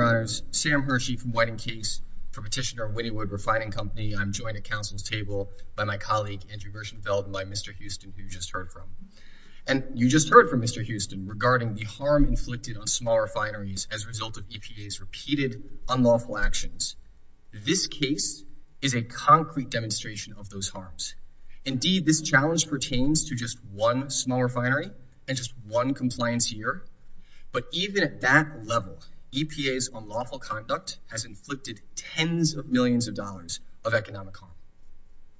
Your Honors, Sam Hershey from Whiting Case for Petitioner of Wynnewood Refining Company. I'm joined at Council's table by my colleague Andrew Gershenfeld and by Mr. Houston, who you just heard from. And you just heard from Mr. Houston regarding the harm inflicted on small refineries as a result of EPA's repeated unlawful actions. This case is a concrete demonstration of those harms. Indeed, this challenge pertains to just one small refinery and just one compliance year. But even at that level, EPA's unlawful conduct has inflicted tens of millions of dollars of economic harm.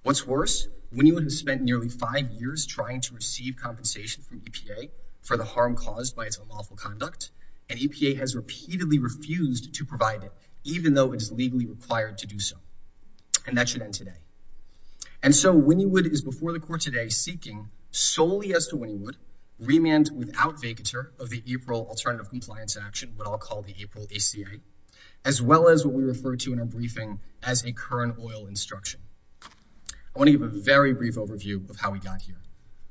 What's worse, Wynnewood has spent nearly five years trying to receive compensation from EPA for the harm caused by its unlawful conduct, and EPA has repeatedly refused to provide it, even though it is legally required to do so. And that should end today. And so Wynnewood is before the Court today seeking, solely as to Wynnewood, remand without vacatur of the April Alternative Compliance Action, what I'll call the April ACA, as well as what we refer to in our briefing as a current oil instruction. I want to give a very brief overview of how we got here.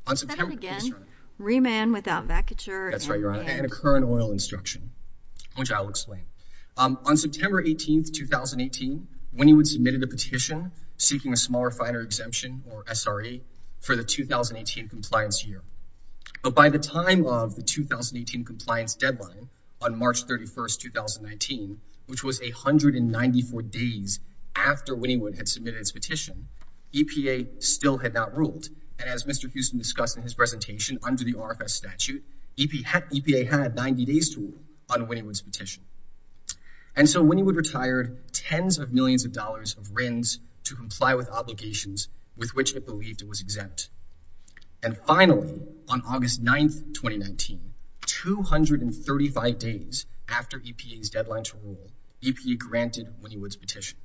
On September 18th, 2018, Wynnewood submitted a petition seeking a small refiner exemption or SRE for the 2018 compliance year. But by the time of the 2018 compliance deadline on March 31st, 2019, which was 194 days after Wynnewood had submitted its petition, EPA still had not ruled. And as Mr. Houston discussed in his presentation, under the RFS statute, EPA had 90 days to rule on Wynnewood's petition. And so Wynnewood retired tens of millions of dollars of RINs to comply with obligations with which it believed it was exempt. And finally, on August 9th, 2019, 235 days after EPA's deadline to rule, EPA granted Wynnewood's petition.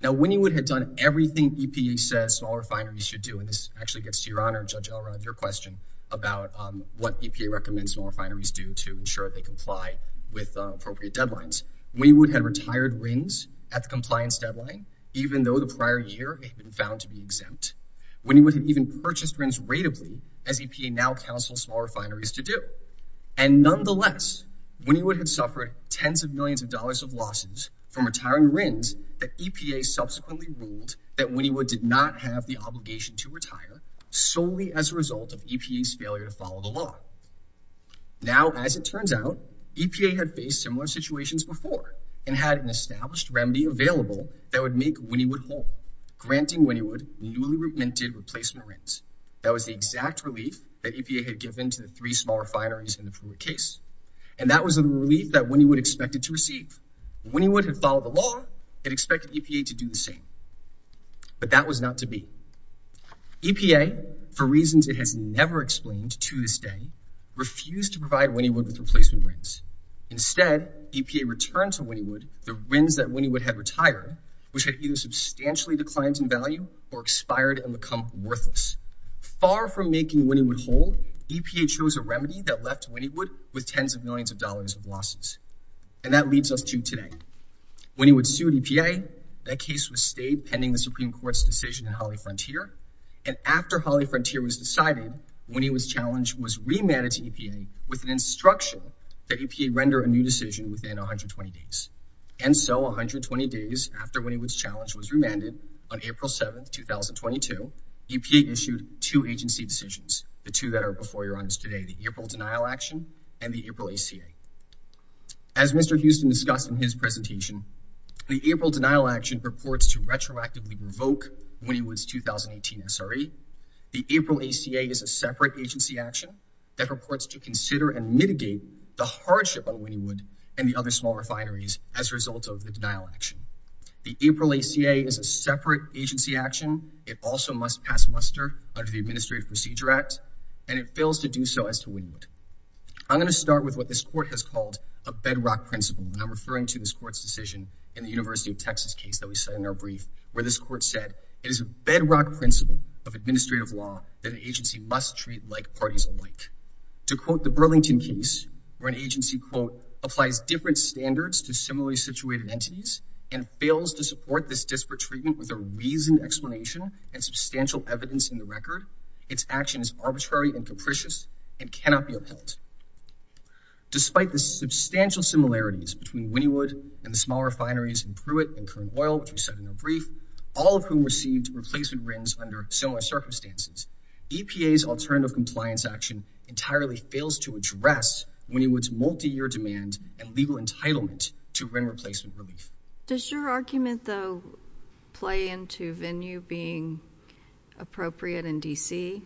Now Wynnewood had done everything EPA says small refineries should do, and this actually gets to Your Honor, Judge Elrod, your question about what EPA recommends small refineries do to ensure they comply with appropriate deadlines. Wynnewood had retired RINs at the compliance deadline, even though the prior year had been found to be exempt. Wynnewood had even purchased RINs ratably, as EPA now counsels small refineries to do. And nonetheless, Wynnewood had suffered tens of millions of dollars of losses from retiring RINs that EPA subsequently ruled that Wynnewood did not have the obligation to retire solely as a result of EPA's failure to follow the law. Now as it turns out, EPA had faced similar situations before and had an established remedy available that would make Wynnewood whole, granting Wynnewood newly replacement RINs. That was the exact relief that EPA had given to the three small refineries in the previous case. And that was a relief that Wynnewood expected to receive. Wynnewood had followed the law and expected EPA to do the same. But that was not to be. EPA, for reasons it has never explained to this day, refused to provide Wynnewood with replacement RINs. Instead, EPA returned to Wynnewood the RINs that Wynnewood had retired, which had either substantially declined in value or expired and become worthless. Far from making Wynnewood whole, EPA chose a remedy that left Wynnewood with tens of millions of dollars of losses. And that leads us to today. Wynnewood sued EPA. That case was stayed pending the Supreme Court's decision in Holly Frontier. And after Holly Frontier was decided, Wynnewood's challenge was remanded to EPA with an instruction that EPA render a new decision within 120 days. And so 120 days after Wynnewood's challenge was remanded, on April 7, 2022, EPA issued two agency decisions, the two that are before your eyes today, the April Denial Action and the April ACA. As Mr. Houston discussed in his presentation, the April Denial Action purports to retroactively revoke Wynnewood's 2018 SRE. The April ACA is a separate agency action that purports to consider and mitigate the hardship on Wynnewood and the other small refineries as a result of the denial action. The April ACA is a separate agency action. It also must pass muster under the Administrative Procedure Act, and it fails to do so as to Wynnewood. I'm going to start with what this court has called a bedrock principle, and I'm referring to this court's decision in the University of Texas case that we said in our brief, where this court said it is a bedrock principle of administrative law that an agency must treat like parties alike. To quote the Burlington case, where an agency, quote, applies different standards to similarly situated entities and fails to support this disparate treatment with a reasoned explanation and substantial evidence in the record, its action is arbitrary and capricious and cannot be upheld. Despite the substantial similarities between Wynnewood and the small refineries in Pruitt and Kern Oil, which we said in our brief, all of whom received replacement Wynns under similar circumstances, EPA's alternative compliance action entirely fails to address Wynnewood's multi-year demand and legal entitlement to Wynne replacement relief. Does your argument, though, play into venue being appropriate in D.C.?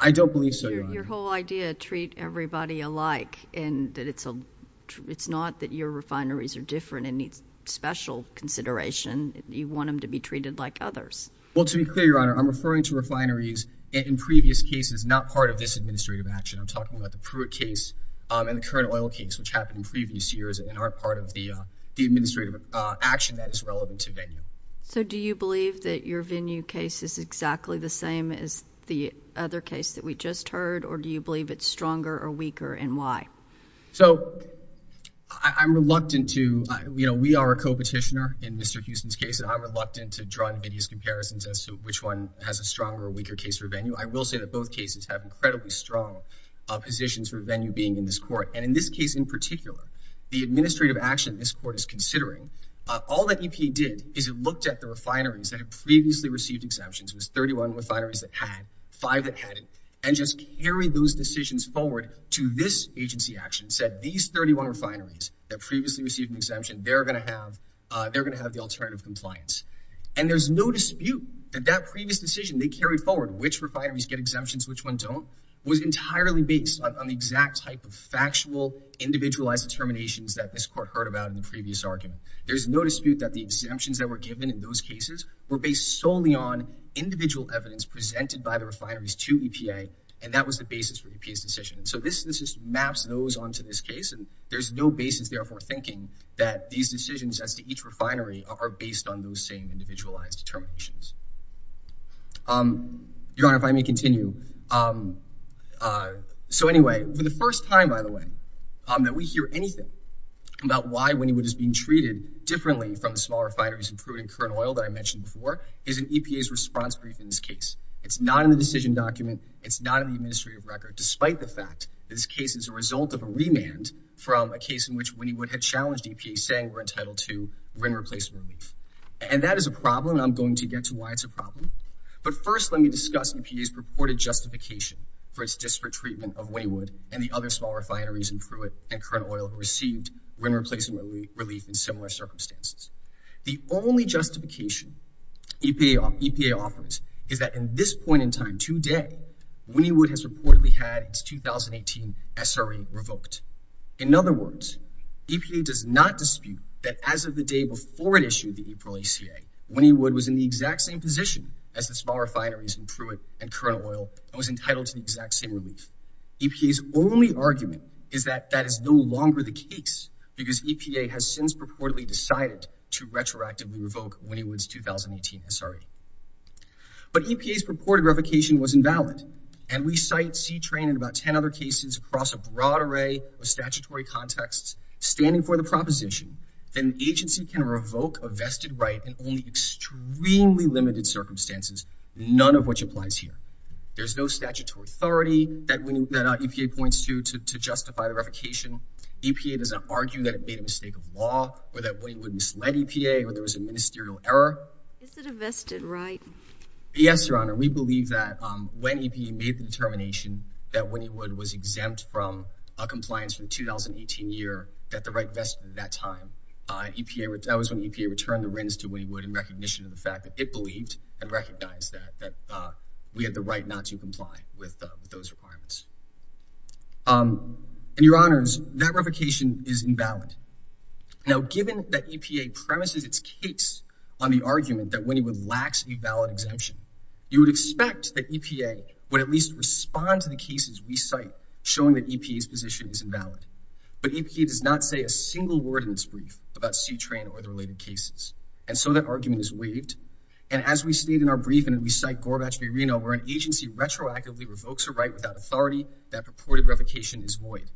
I don't believe so, Your Honor. Your whole idea, treat everybody alike, and that it's not that your refineries are different and need special consideration. You want them to be treated like others. Well, to be clear, Your Honor, I'm referring to refineries in previous cases, not part of this administrative action. I'm talking about the Pruitt case and the Kern Oil case, which happened in previous years and aren't part of the administrative action that is relevant to venue. So do you believe that your venue case is exactly the same as the other case that we just heard, or do you believe it's stronger or weaker, and why? So I'm reluctant to, you know, we are a co-petitioner in Mr. Houston's case, and I'm reluctant to draw hideous comparisons as to which one has a stronger or weaker case for venue. I will say that both cases have incredibly strong positions for venue being in this court. And in this case in particular, the administrative action this court is considering, all that EPA did is it looked at the refineries that had previously received exemptions, it was 31 refineries that had, five that hadn't, and just carried those decisions forward to this agency action, said these 31 refineries that previously received an exemption, they're going to have, they're going to have the alternative compliance. And there's no dispute that that previous decision they carried forward, which refineries get exemptions, which ones don't, was entirely based on the exact type of factual, individualized determinations that this court heard about in the previous argument. There's no dispute that the exemptions that were given in those cases were based solely on individual evidence presented by the refineries to EPA, and that was the basis for EPA's decision. So this, this just maps those onto this case, and there's no basis there for thinking that these decisions as to each refinery are based on those same individualized determinations. Your Honor, if I may continue. So anyway, for the first time, by the way, that we hear anything about why Wynnewood is being treated differently from the smaller refineries in crude and current oil that I mentioned before is an EPA's response brief in this case. It's not in the decision document. It's not in the administrative record, despite the fact that this case is a result of a remand from a case in which Wynnewood had challenged EPA saying we're entitled to RIN replacement relief. And that is a problem, and I'm going to get to why it's a problem. But first, let me discuss EPA's purported justification for its disparate treatment of Wynnewood and the other smaller refineries in Pruitt and current oil who received RIN replacement relief in similar circumstances. The only justification EPA offers is that in this point in time today, Wynnewood has reportedly had its 2018 SRA revoked. In other words, EPA does not dispute that as of the day before it issued the April ACA, Wynnewood was in the exact same position as the smaller refineries in Pruitt and current oil and was entitled to the exact same relief. EPA's only argument is that that is no longer the case because EPA has since purportedly decided to retroactively revoke Wynnewood's 2018 SRA. But EPA's purported revocation was invalid. And we cite C-TRAIN and about 10 other cases across a broad array of statutory contexts standing for the proposition that an agency can revoke a vested right in only extremely limited circumstances, none of which applies here. There's no statutory authority that EPA points to to justify the revocation. EPA does not argue that it made a mistake of law or that Wynnewood misled EPA or there was a ministerial error. Is it a vested right? Yes, Your Honor. We believe that when EPA made the determination that Wynnewood was exempt from a compliance from 2018 year that the right vested at that time, that was when EPA returned the RINs to Wynnewood in recognition of the fact that it believed and recognized that we had the right not to comply with those requirements. And Your Honors, that revocation is invalid. Now, given that EPA premises its case on the argument that Wynnewood lacks a valid exemption, you would expect that EPA would at least respond to the cases we cite showing that EPA's position is invalid. But EPA does not say a single word in this brief about C-TRAIN or the related cases. And so that argument is waived. And as we state in our brief and we cite Gorbachev-Urino, where an agency retroactively revokes a right without authority, that purported revocation is void.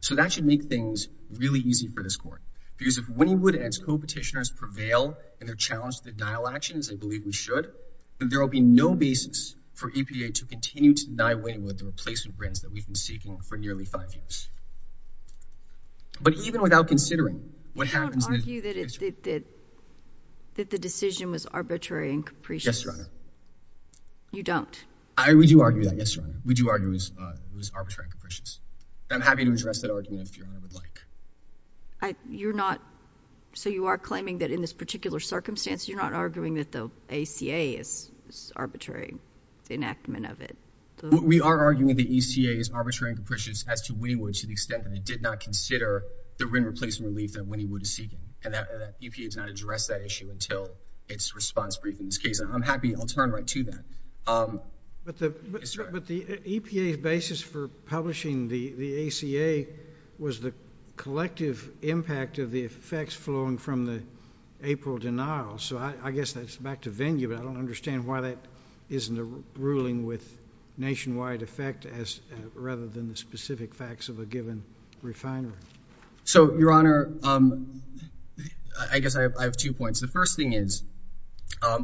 So that should make things really easy for this Court. Because if Wynnewood and its co-petitioners prevail in their challenge to denial actions, as they believe we should, then there will be no basis for EPA to continue to deny Wynnewood the replacement RINs that we've been seeking for nearly five years. But even without considering what happens in this case— You don't argue that the decision was arbitrary and capricious? Yes, Your Honor. You don't? We do argue that. Yes, Your Honor. We do argue it was arbitrary and capricious. And I'm happy to address that argument if Your Honor would like. You're not—so you are claiming that in this particular circumstance, you're not arguing that the ACA is arbitrary, the enactment of it? We are arguing the ACA is arbitrary and capricious as to Wynnewood to the extent that it did not consider the RIN replacement relief that Wynnewood is seeking. And that EPA does not address that issue until its response brief in this case. And I'm happy—I'll turn right to that. But the EPA's basis for publishing the ACA was the collective impact of the effects flowing from the April denial. So I guess that's back to venue, but I don't understand why that isn't a ruling with nationwide effect as—rather than the specific facts of a given refinery. So Your Honor, I guess I have two points. The first thing is,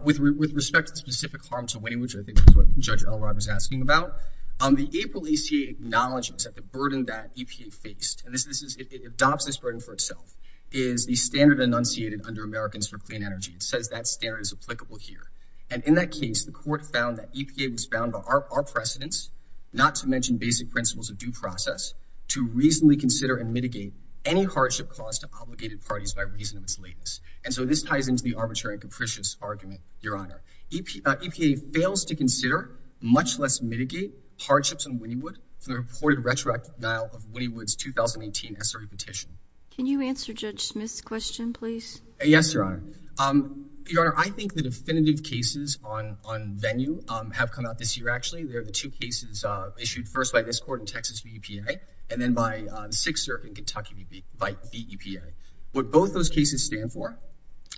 with respect to the specific harm to Wynnewood, which I think is what Judge Elrod was asking about, the April ACA acknowledges that the burden that EPA faced—and this is—it adopts this burden for itself—is the standard enunciated under Americans for Clean Energy. It says that standard is applicable here. And in that case, the Court found that EPA was bound by our precedents, not to mention basic principles of due process, to reasonably consider and mitigate any hardship caused to obligated parties by reason of its lateness. And so this ties into the arbitrary and capricious argument, Your Honor. EPA fails to consider, much less mitigate, hardships in Wynnewood from the reported retroactive denial of Wynnewood's 2018 SRE petition. Can you answer Judge Smith's question, please? Yes, Your Honor. Your Honor, I think the definitive cases on venue have come out this year, actually. They're the two cases issued first by this Court in Texas, the EPA, and then by Sixth Circuit in Kentucky by the EPA. What both those cases stand for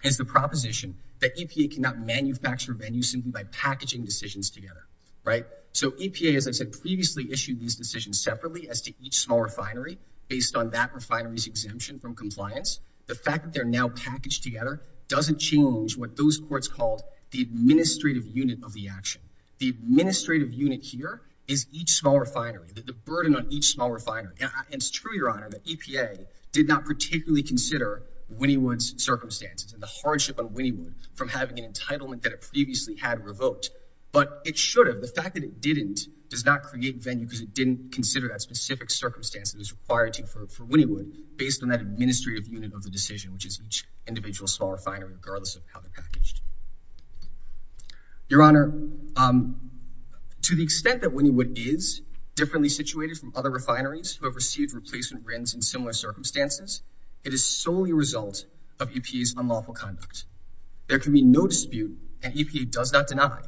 is the proposition that EPA cannot manufacture venues simply by packaging decisions together, right? So EPA, as I said, previously issued these decisions separately as to each small refinery based on that refinery's exemption from compliance. The fact that they're now packaged together doesn't change what those courts called the administrative unit of the action. The administrative unit here is each small refinery, the burden on each small refinery. And it's true, Your Honor, that EPA did not particularly consider Wynnewood's circumstances and the hardship on Wynnewood from having an entitlement that it previously had revoked. But it should have. The fact that it didn't does not create venue because it didn't consider that specific circumstance that is required for Wynnewood based on that administrative unit of the decision, which is each individual small refinery, regardless of how they're packaged. Your Honor, to the extent that Wynnewood is differently situated from other refineries who have received replacement bins in similar circumstances, it is solely a result of EPA's unlawful conduct. There can be no dispute and EPA does not deny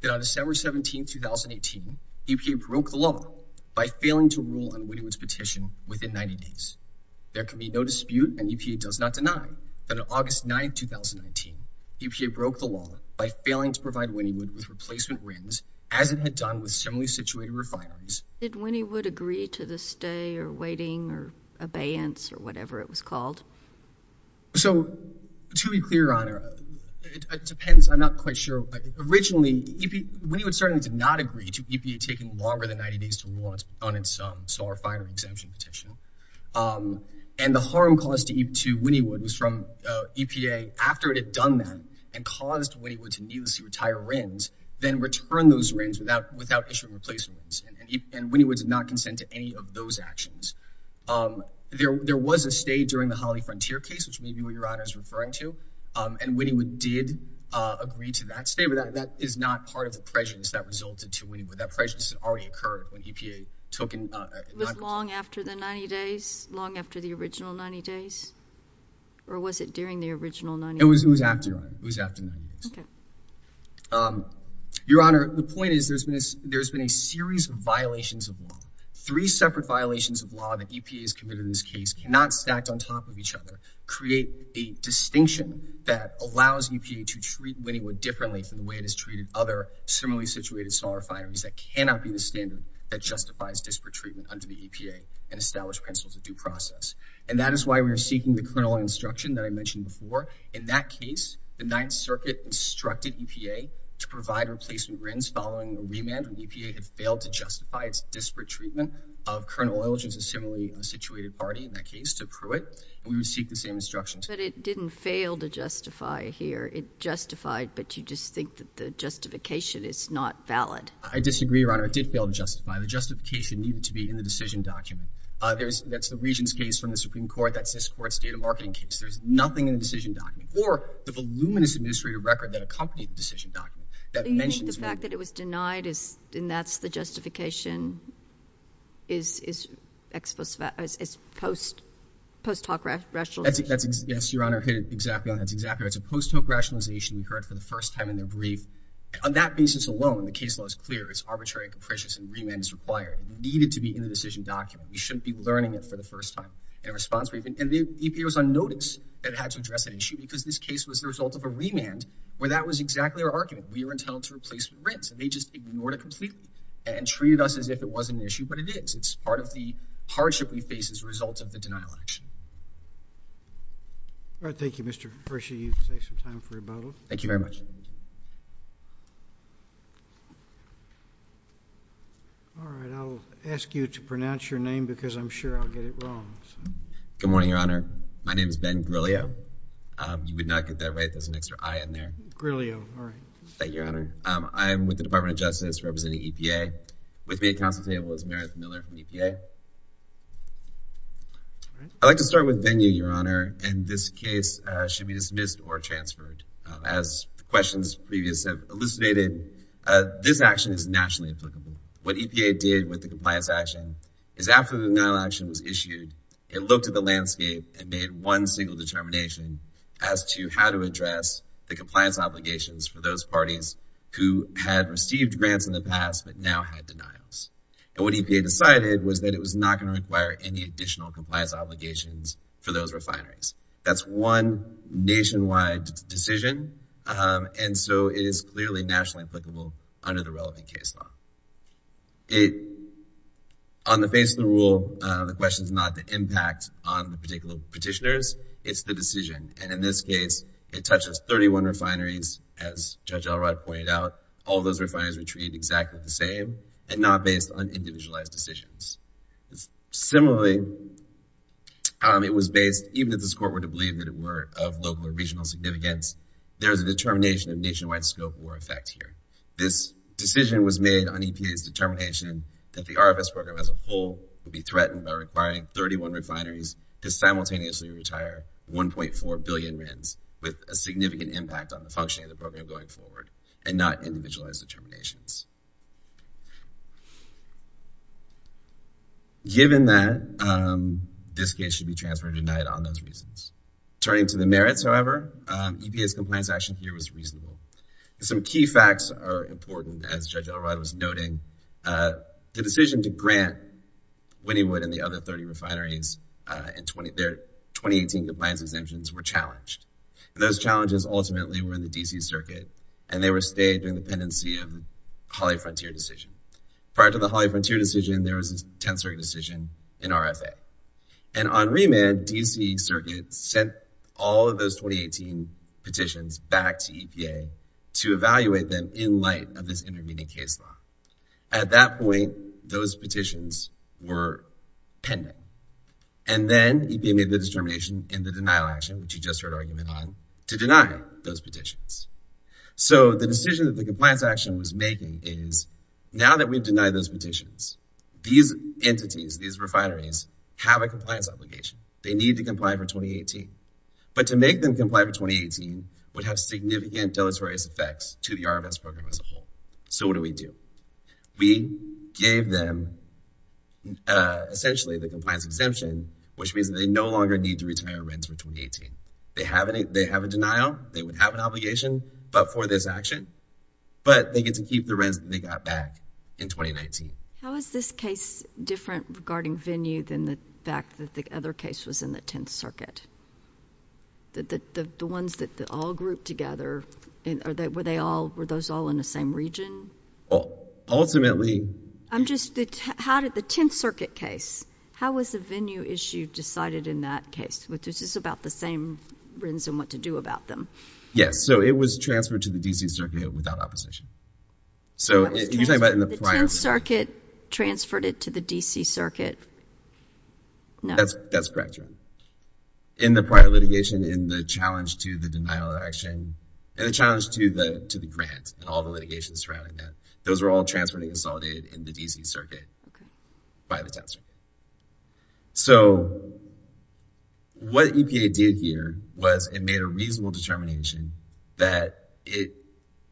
that on December 17, 2018, EPA broke the law by failing to rule on Wynnewood's petition within 90 days. There can be no dispute and EPA does not deny that on August 9, 2019, EPA broke the law by failing to provide Wynnewood with replacement bins as it had done with similarly situated refineries. Did Wynnewood agree to the stay or waiting or abeyance or whatever it was called? So to be clear, Your Honor, it depends. I'm not quite sure. Originally, Wynnewood certainly did not agree to EPA taking longer than 90 days to rule on its small refinery exemption petition. And the harm caused to Wynnewood was from EPA, after it had done that and caused Wynnewood to needlessly retire RINs, then return those RINs without issuing replacements. And Wynnewood did not consent to any of those actions. There was a stay during the Holly Frontier case, which maybe what Your Honor is referring to. And Wynnewood did agree to that stay, but that is not part of the prejudice that resulted to Wynnewood. That prejudice had already occurred when EPA took and— Was it long after the 90 days? Long after the original 90 days? Or was it during the original 90 days? It was after, Your Honor. It was after 90 days. Okay. Your Honor, the point is there's been a series of violations of law. Three separate violations of law that EPA has committed in this case cannot stacked on top of each other, create a distinction that allows EPA to treat Wynnewood differently from the way it has treated other similarly situated saw refineries that cannot be the standard that justifies disparate treatment under the EPA and establish principles of due process. And that is why we are seeking the kernel instruction that I mentioned before. In that case, the Ninth Circuit instructed EPA to provide replacement RINs following the remand when the EPA had failed to justify its disparate treatment of Kernel Oil, which is a similarly situated party in that case, to Pruitt, and we would seek the same instructions. But it didn't fail to justify here. It justified, but you just think that the justification is not valid. I disagree, Your Honor. It did fail to justify. The justification needed to be in the decision document. That's the Regents' case from the Supreme Court. That's this Court's data marketing case. There's nothing in the decision document. Or the voluminous administrative record that accompanied the decision document that mentions Wynnewood. So you think the fact that it was denied, and that's the justification, is post-hoc rationalization? Yes, Your Honor. Exactly. That's exactly right. It was a post-hoc rationalization. We heard it for the first time in their brief. On that basis alone, the case law is clear. It's arbitrary and capricious, and remand is required. It needed to be in the decision document. We shouldn't be learning it for the first time. In response, we've been—and the EPA was on notice that it had to address that issue because this case was the result of a remand where that was exactly our argument. We were entitled to replacement RINs, and they just ignored it completely and treated us as if it wasn't an issue, but it is. It's part of the hardship we face as a result of the denial action. All right. Thank you, Mr. Hershey. You can take some time for rebuttal. Thank you very much. All right. I'll ask you to pronounce your name because I'm sure I'll get it wrong. Good morning, Your Honor. My name is Ben Grilio. You would not get that right. There's an extra I in there. Grilio. All right. Thank you, Your Honor. I'm with the Department of Justice representing EPA. With me at counsel's table is Meredith Miller from EPA. All right. I'd like to start with venue, Your Honor. And this case should be dismissed or transferred. As the questions previous have elucidated, this action is nationally applicable. What EPA did with the compliance action is after the denial action was issued, it looked at the landscape and made one single determination as to how to address the compliance obligations for those parties who had received grants in the past but now had denials. And what EPA decided was that it was not going to require any additional compliance obligations for those refineries. That's one nationwide decision. And so it is clearly nationally applicable under the relevant case law. On the face of the rule, the question is not the impact on the particular petitioners. It's the decision. And in this case, it touches 31 refineries, as Judge Elrod pointed out. All those refineries were treated exactly the same and not based on individualized decisions. Similarly, it was based, even if this Court were to believe that it were of local or regional significance, there is a determination of nationwide scope or effect here. This decision was made on EPA's determination that the RFS program as a whole would be threatened by requiring 31 refineries to simultaneously retire 1.4 billion RINs with a significant impact on the functioning of the program going forward and not individualized determinations. Given that, this case should be transferred at night on those reasons. Turning to the merits, however, EPA's compliance action here was reasonable. Some key facts are important, as Judge Elrod was noting. The decision to grant Wynnywood and the other 30 refineries their 2018 compliance exemptions were challenged. And those challenges ultimately were in the D.C. Circuit, and they were stayed in the pendency of Hawley Frontier decision. Prior to the Hawley Frontier decision, there was a 10th Circuit decision in RFA. And on remand, D.C. Circuit sent all of those 2018 petitions back to EPA to evaluate them in light of this intervening case law. At that point, those petitions were pending. And then EPA made the determination in the denial action, which you just heard argument on, to deny those petitions. So, the decision that the compliance action was making is, now that we've denied those petitions, these entities, these refineries, have a compliance obligation. They need to comply for 2018. But to make them comply for 2018 would have significant deleterious effects to the RFS program as a whole. So, what do we do? We gave them, essentially, the compliance exemption, which means that they no longer need to retire or rent for 2018. They have a denial, they would have an obligation, but for this action. But they get to keep the rents that they got back in 2019. How is this case different regarding venue than the fact that the other case was in the 10th Circuit? The ones that all grouped together, were they all, were those all in the same region? Ultimately... I'm just, how did the 10th Circuit case, how was the venue issue decided in that case? Which is just about the same reason what to do about them. Yes. So, it was transferred to the DC Circuit without opposition. So, you're talking about in the prior... The 10th Circuit transferred it to the DC Circuit, no? That's correct, Your Honor. In the prior litigation, in the challenge to the denial of action, and the challenge to the grant, and all the litigation surrounding that, those were all transferred and consolidated in the DC Circuit by the 10th Circuit. So, what EPA did here was it made a reasonable determination that it,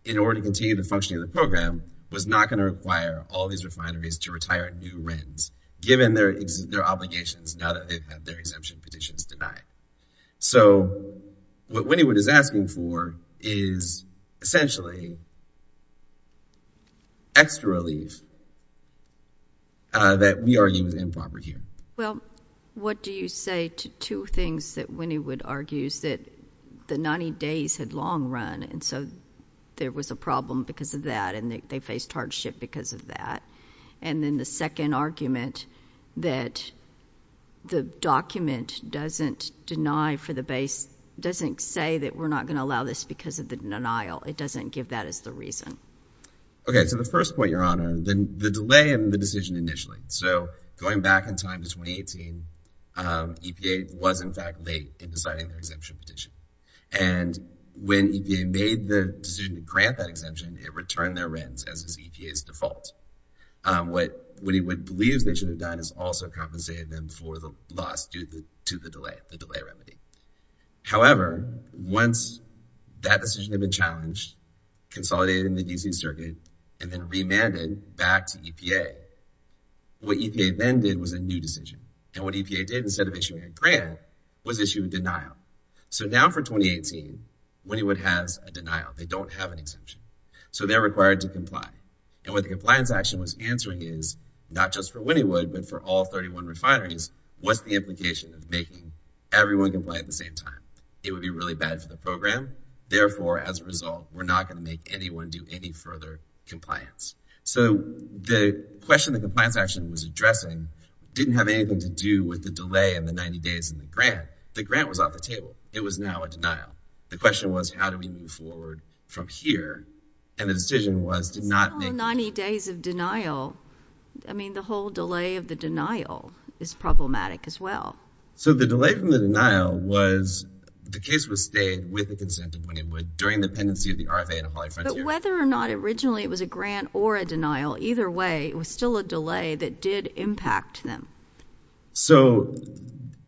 in order to continue the functioning of the program, was not going to require all these refineries to retire new rents, given their obligations now that they've had their exemption petitions denied. So, what Wynnywood is asking for is essentially extra relief that we argue is improper here. Well, what do you say to two things that Wynnywood argues that the 90 days had long run, and so there was a problem because of that, and they faced hardship because of that? And then the second argument that the document doesn't deny for the base... Doesn't say that we're not going to allow this because of the denial. It doesn't give that as the reason. Okay. So, the first point, Your Honor, the delay in the decision initially. So, going back in time to 2018, EPA was, in fact, late in deciding their exemption petition. And when EPA made the decision to grant that exemption, it returned their rents as EPA's default. What Wynnywood believes they should have done is also compensated them for the loss due to the delay, the delay remedy. However, once that decision had been challenged, consolidated in the DC Circuit, and then remanded back to EPA, what EPA then did was a new decision. And what EPA did instead of issuing a grant was issue a denial. So, now for 2018, Wynnywood has a denial. They don't have an exemption. So, they're required to comply. And what the compliance action was answering is, not just for Wynnywood, but for all 31 refineries, what's the implication of making everyone comply at the same time? It would be really bad for the program. Therefore, as a result, we're not going to make anyone do any further compliance. So, the question the compliance action was addressing didn't have anything to do with the delay and the 90 days in the grant. The grant was off the table. It was now a denial. The question was, how do we move forward from here? And the decision was to not make- So, 90 days of denial, I mean, the whole delay of the denial is problematic as well. So, the delay from the denial was, the case was stayed with the consent of Wynnywood during the pendency of the RFA and the Hawaii Frontier. But whether or not originally it was a grant or a denial, either way, it was still a delay that did impact them. So,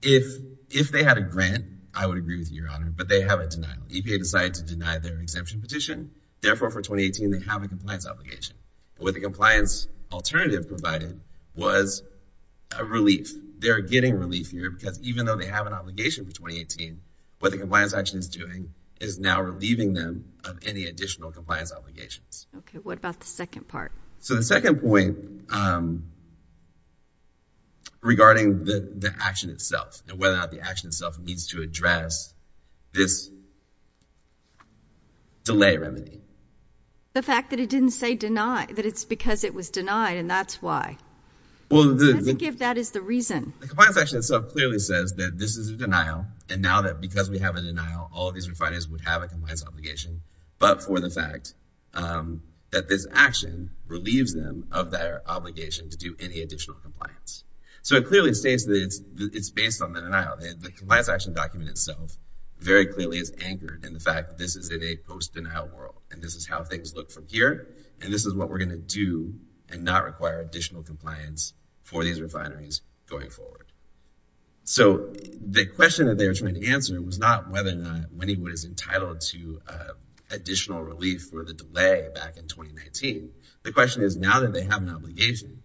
if they had a grant, I would agree with you, Your Honor, but they have a denial. EPA decided to deny their exemption petition. Therefore, for 2018, they have a compliance obligation. What the compliance alternative provided was a relief. They're getting relief here because even though they have an obligation for 2018, what the compliance action is doing is now relieving them of any additional compliance obligations. Okay. What about the second part? So, the second point regarding the action itself and whether or not the action itself needs to address this delay remedy. The fact that it didn't say deny, that it's because it was denied and that's why. Well, the- I think if that is the reason. The compliance action itself clearly says that this is a denial and now that because we have a denial, all of these refiners would have a compliance obligation, but for the action relieves them of their obligation to do any additional compliance. So, it clearly states that it's based on the denial. The compliance action document itself very clearly is anchored in the fact that this is in a post-denial world and this is how things look from here and this is what we're going to do and not require additional compliance for these refineries going forward. So, the question that they were trying to answer was not whether or not Winniwood is The question is now that they have an obligation,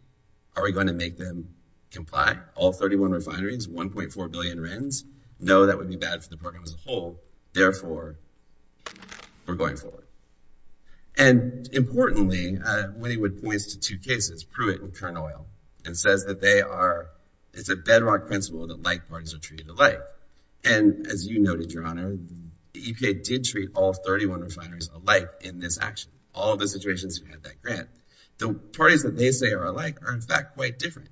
are we going to make them comply? All 31 refineries, 1.4 billion RINs. No, that would be bad for the program as a whole. Therefore, we're going forward. And importantly, Winniwood points to two cases, Pruitt and Kern Oil, and says that they are, it's a bedrock principle that like parties are treated alike. And as you noted, Your Honor, the UK did treat all 31 refineries alike in this action. All of the situations who had that grant. The parties that they say are alike are in fact quite different.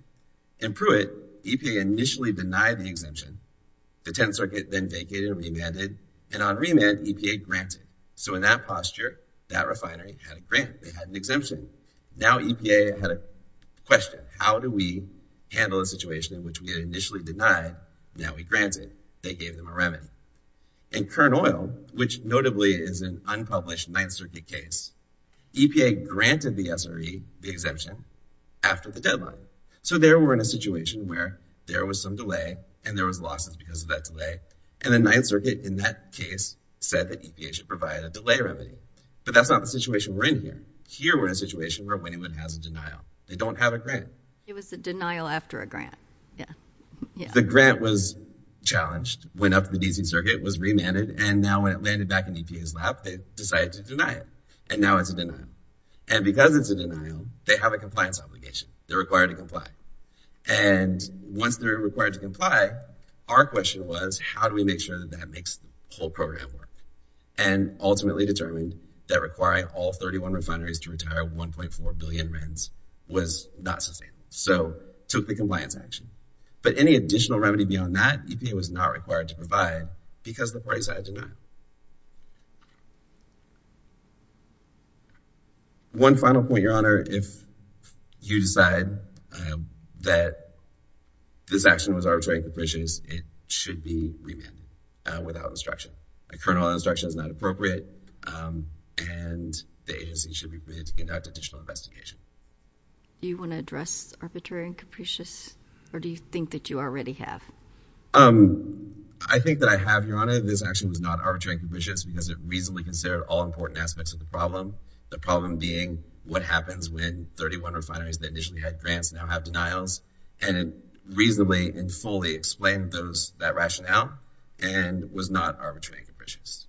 In Pruitt, EPA initially denied the exemption. The 10th Circuit then vacated and remanded. And on remand, EPA granted. So, in that posture, that refinery had a grant. They had an exemption. Now, EPA had a question. How do we handle a situation in which we initially denied and now we granted? They gave them a remand. And Kern Oil, which notably is an unpublished 9th Circuit case, EPA granted the SRE, the exemption, after the deadline. So, there we're in a situation where there was some delay, and there was losses because of that delay. And the 9th Circuit in that case said that EPA should provide a delay remedy. But that's not the situation we're in here. Here we're in a situation where Winniwood has a denial. They don't have a grant. It was a denial after a grant. Yeah, yeah. The grant was challenged, went up to the DC Circuit, was remanded. And now when it landed back in EPA's lap, they decided to deny it. And now it's a denial. And because it's a denial, they have a compliance obligation. They're required to comply. And once they're required to comply, our question was, how do we make sure that that makes the whole program work? And ultimately determined that requiring all 31 refineries to retire 1.4 billion RENs was not sustainable. So took the compliance action. But any additional remedy beyond that, EPA was not required to provide because the parties had denied. One final point, Your Honor. If you decide that this action was arbitrary and capricious, it should be remanded without instruction. A kernel instruction is not appropriate. And the agency should be permitted to conduct additional investigation. Do you want to address arbitrary and capricious? Or do you think that you already have? I think that I have, Your Honor. This action was not arbitrary and capricious because it reasonably considered all important aspects of the problem. The problem being what happens when 31 refineries that initially had grants now have denials. And it reasonably and fully explained that rationale and was not arbitrary and capricious.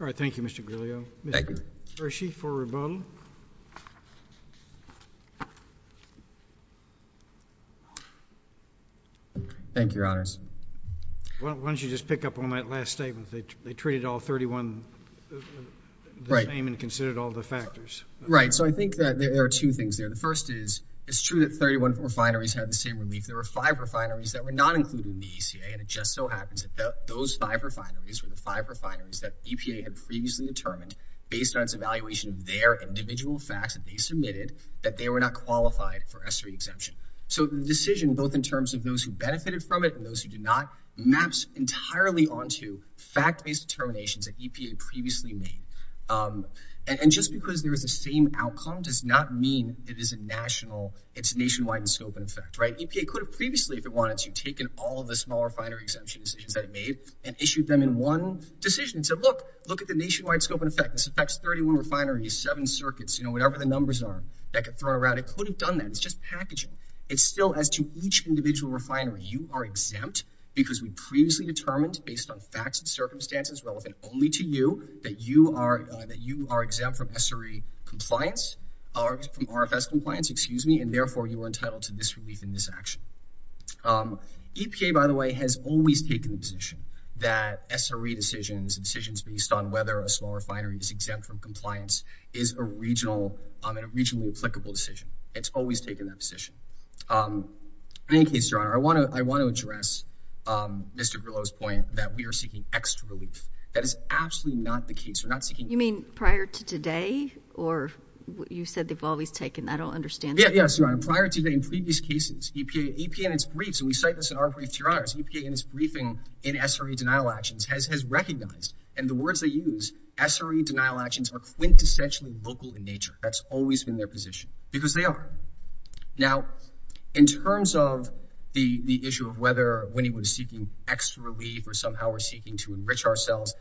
All right. Thank you, Mr. Griglio. Thank you. Hershey for rebuttal. Thank you, Your Honors. Why don't you just pick up on that last statement? They treated all 31 the same and considered all the factors. Right. So I think that there are two things there. The first is, it's true that 31 refineries had the same relief. There were five refineries that were not included in the ACA. And it just so happens that those five refineries were the five refineries that EPA had previously determined based on its evaluation of their individual facts that they submitted that they were not qualified for SRE exemption. So the decision, both in terms of those who benefited from it and those who did not, maps entirely onto fact-based determinations that EPA previously made. And just because there is the same outcome does not mean it is a national, it's nationwide in scope and effect. Right. EPA could have previously, if it wanted to, taken all of the smaller refinery exemption decisions that it made and issued them in one decision and said, look, look at the nationwide scope and effect. This affects 31 refineries, seven circuits, you know, whatever the numbers are that get thrown around. It could have done that. It's just packaging. It's still as to each individual refinery, you are exempt because we previously determined based on facts and circumstances relevant only to you that you are exempt from SRE compliance, from RFS compliance, excuse me, and therefore you are entitled to this relief in this action. EPA, by the way, has always taken the position that SRE decisions, decisions based on whether a small refinery is exempt from compliance is a regional, a regionally applicable decision. It's always taken that position. In any case, Your Honor, I want to address Mr. Grillo's point that we are seeking extra relief. That is absolutely not the case. We're not seeking- You mean prior to today? Or you said they've always taken, I don't understand- Yeah, yes, Your Honor. Prior to today, in previous cases, EPA in its briefs, and we cite this in our briefs, Your Honor, EPA in its briefing in SRE denial actions has recognized, and the words they use, SRE denial actions are quintessentially local in nature. That's always been their position because they are. Now, in terms of the issue of whether when he was seeking extra relief or somehow we're seeking to enrich ourselves,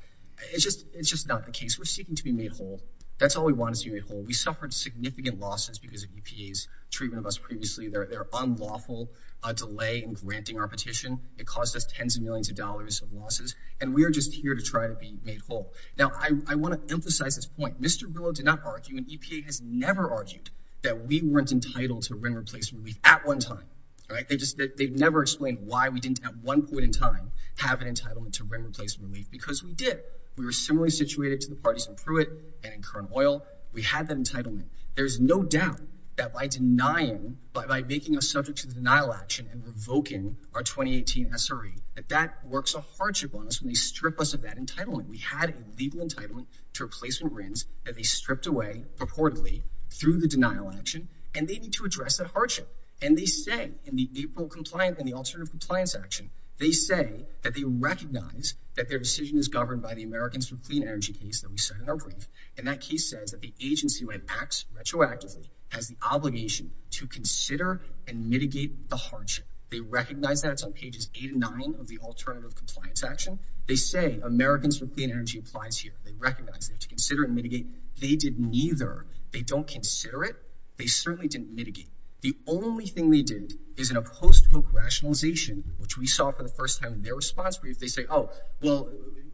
it's just not the case. We're seeking to be made whole. That's all we want is to be made whole. We suffered significant losses because of EPA's treatment of us previously. Their unlawful delay in granting our petition, it caused us tens of millions of dollars of losses, and we are just here to try to be made whole. Now, I want to emphasize this point. Mr. Grillo did not argue, and EPA has never argued, that we weren't entitled to rent replacement relief at one time. They've never explained why we didn't, at one point in time, have an entitlement to rent replacement relief because we did. We were similarly situated to the parties in Pruitt and in Kern Oil. We had that entitlement. There's no doubt that by denying, by making us subject to the denial action and revoking our 2018 SRE, that that works a hardship on us when they strip us of that entitlement. We had a legal entitlement to replacement rents that they stripped away purportedly through the denial action, and they need to address that hardship. And they say in the April compliance and the alternative compliance action, they say that they recognize that their decision is governed by the Americans with Clean Energy case that we said in our brief. And that case says that the agency, when it acts retroactively, has the obligation to consider and mitigate the hardship. They recognize that. It's on pages eight and nine of the alternative compliance action. They say Americans with Clean Energy applies here. They recognize it to consider and mitigate. They did neither. They don't consider it. They certainly didn't mitigate. The only thing they did is in a post-hook rationalization, which we saw for the first time in their response brief, they say, oh, well,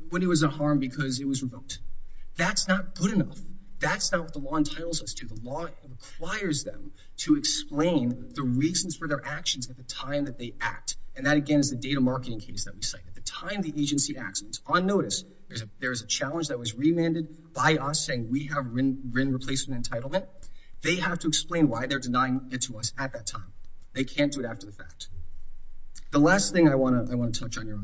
when it was a harm because it was revoked. That's not good enough. That's not what the law entitles us to. The law requires them to explain the reasons for their actions at the time that they act. And that, again, is the data marketing case that we cite. At the time the agency acts, it's on notice. There is a challenge that was remanded by us saying we have rent replacement entitlement. They have to explain why they're denying it to us at that time. They can't do it after the fact. The last thing I want to touch on here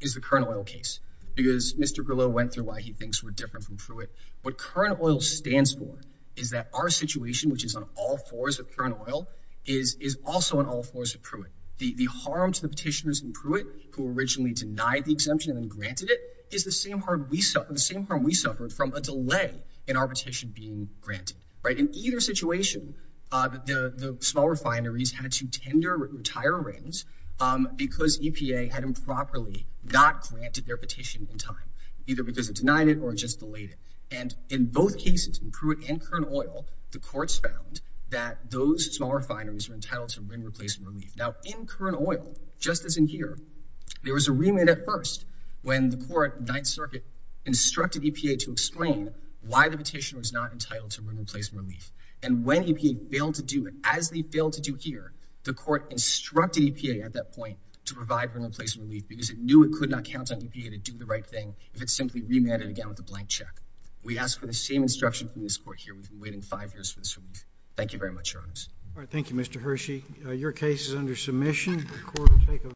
is the Kernel Oil case, because Mr. Grillo went through why he thinks we're different from Pruitt. What Kernel Oil stands for is that our situation, which is on all fours of Kernel Oil, is also on all fours of Pruitt. The harm to the petitioners in Pruitt, who originally denied the exemption and granted it, is the same harm we suffered from a delay in our petition being granted. In either situation, the small refineries had to tender and retire reins because EPA had improperly not granted their petition in time, either because it denied it or just delayed it. And in both cases, in Pruitt and Kernel Oil, the courts found that those small refineries were entitled to rent replacement relief. Now, in Kernel Oil, just as in here, there was a remand at first when the court, Ninth Circuit, instructed EPA to explain why the petitioner was not entitled to rent replacement relief. And when EPA failed to do it, as they failed to do here, the court instructed EPA at that point to provide rent replacement relief because it knew it could not count on EPA to do the right thing if it simply remanded again with a blank check. We ask for the same instruction from this court here. We've been waiting five years for this relief. Thank you very much, Your Honors. All right. Thank you, Mr. Hershey. Your case is under submission.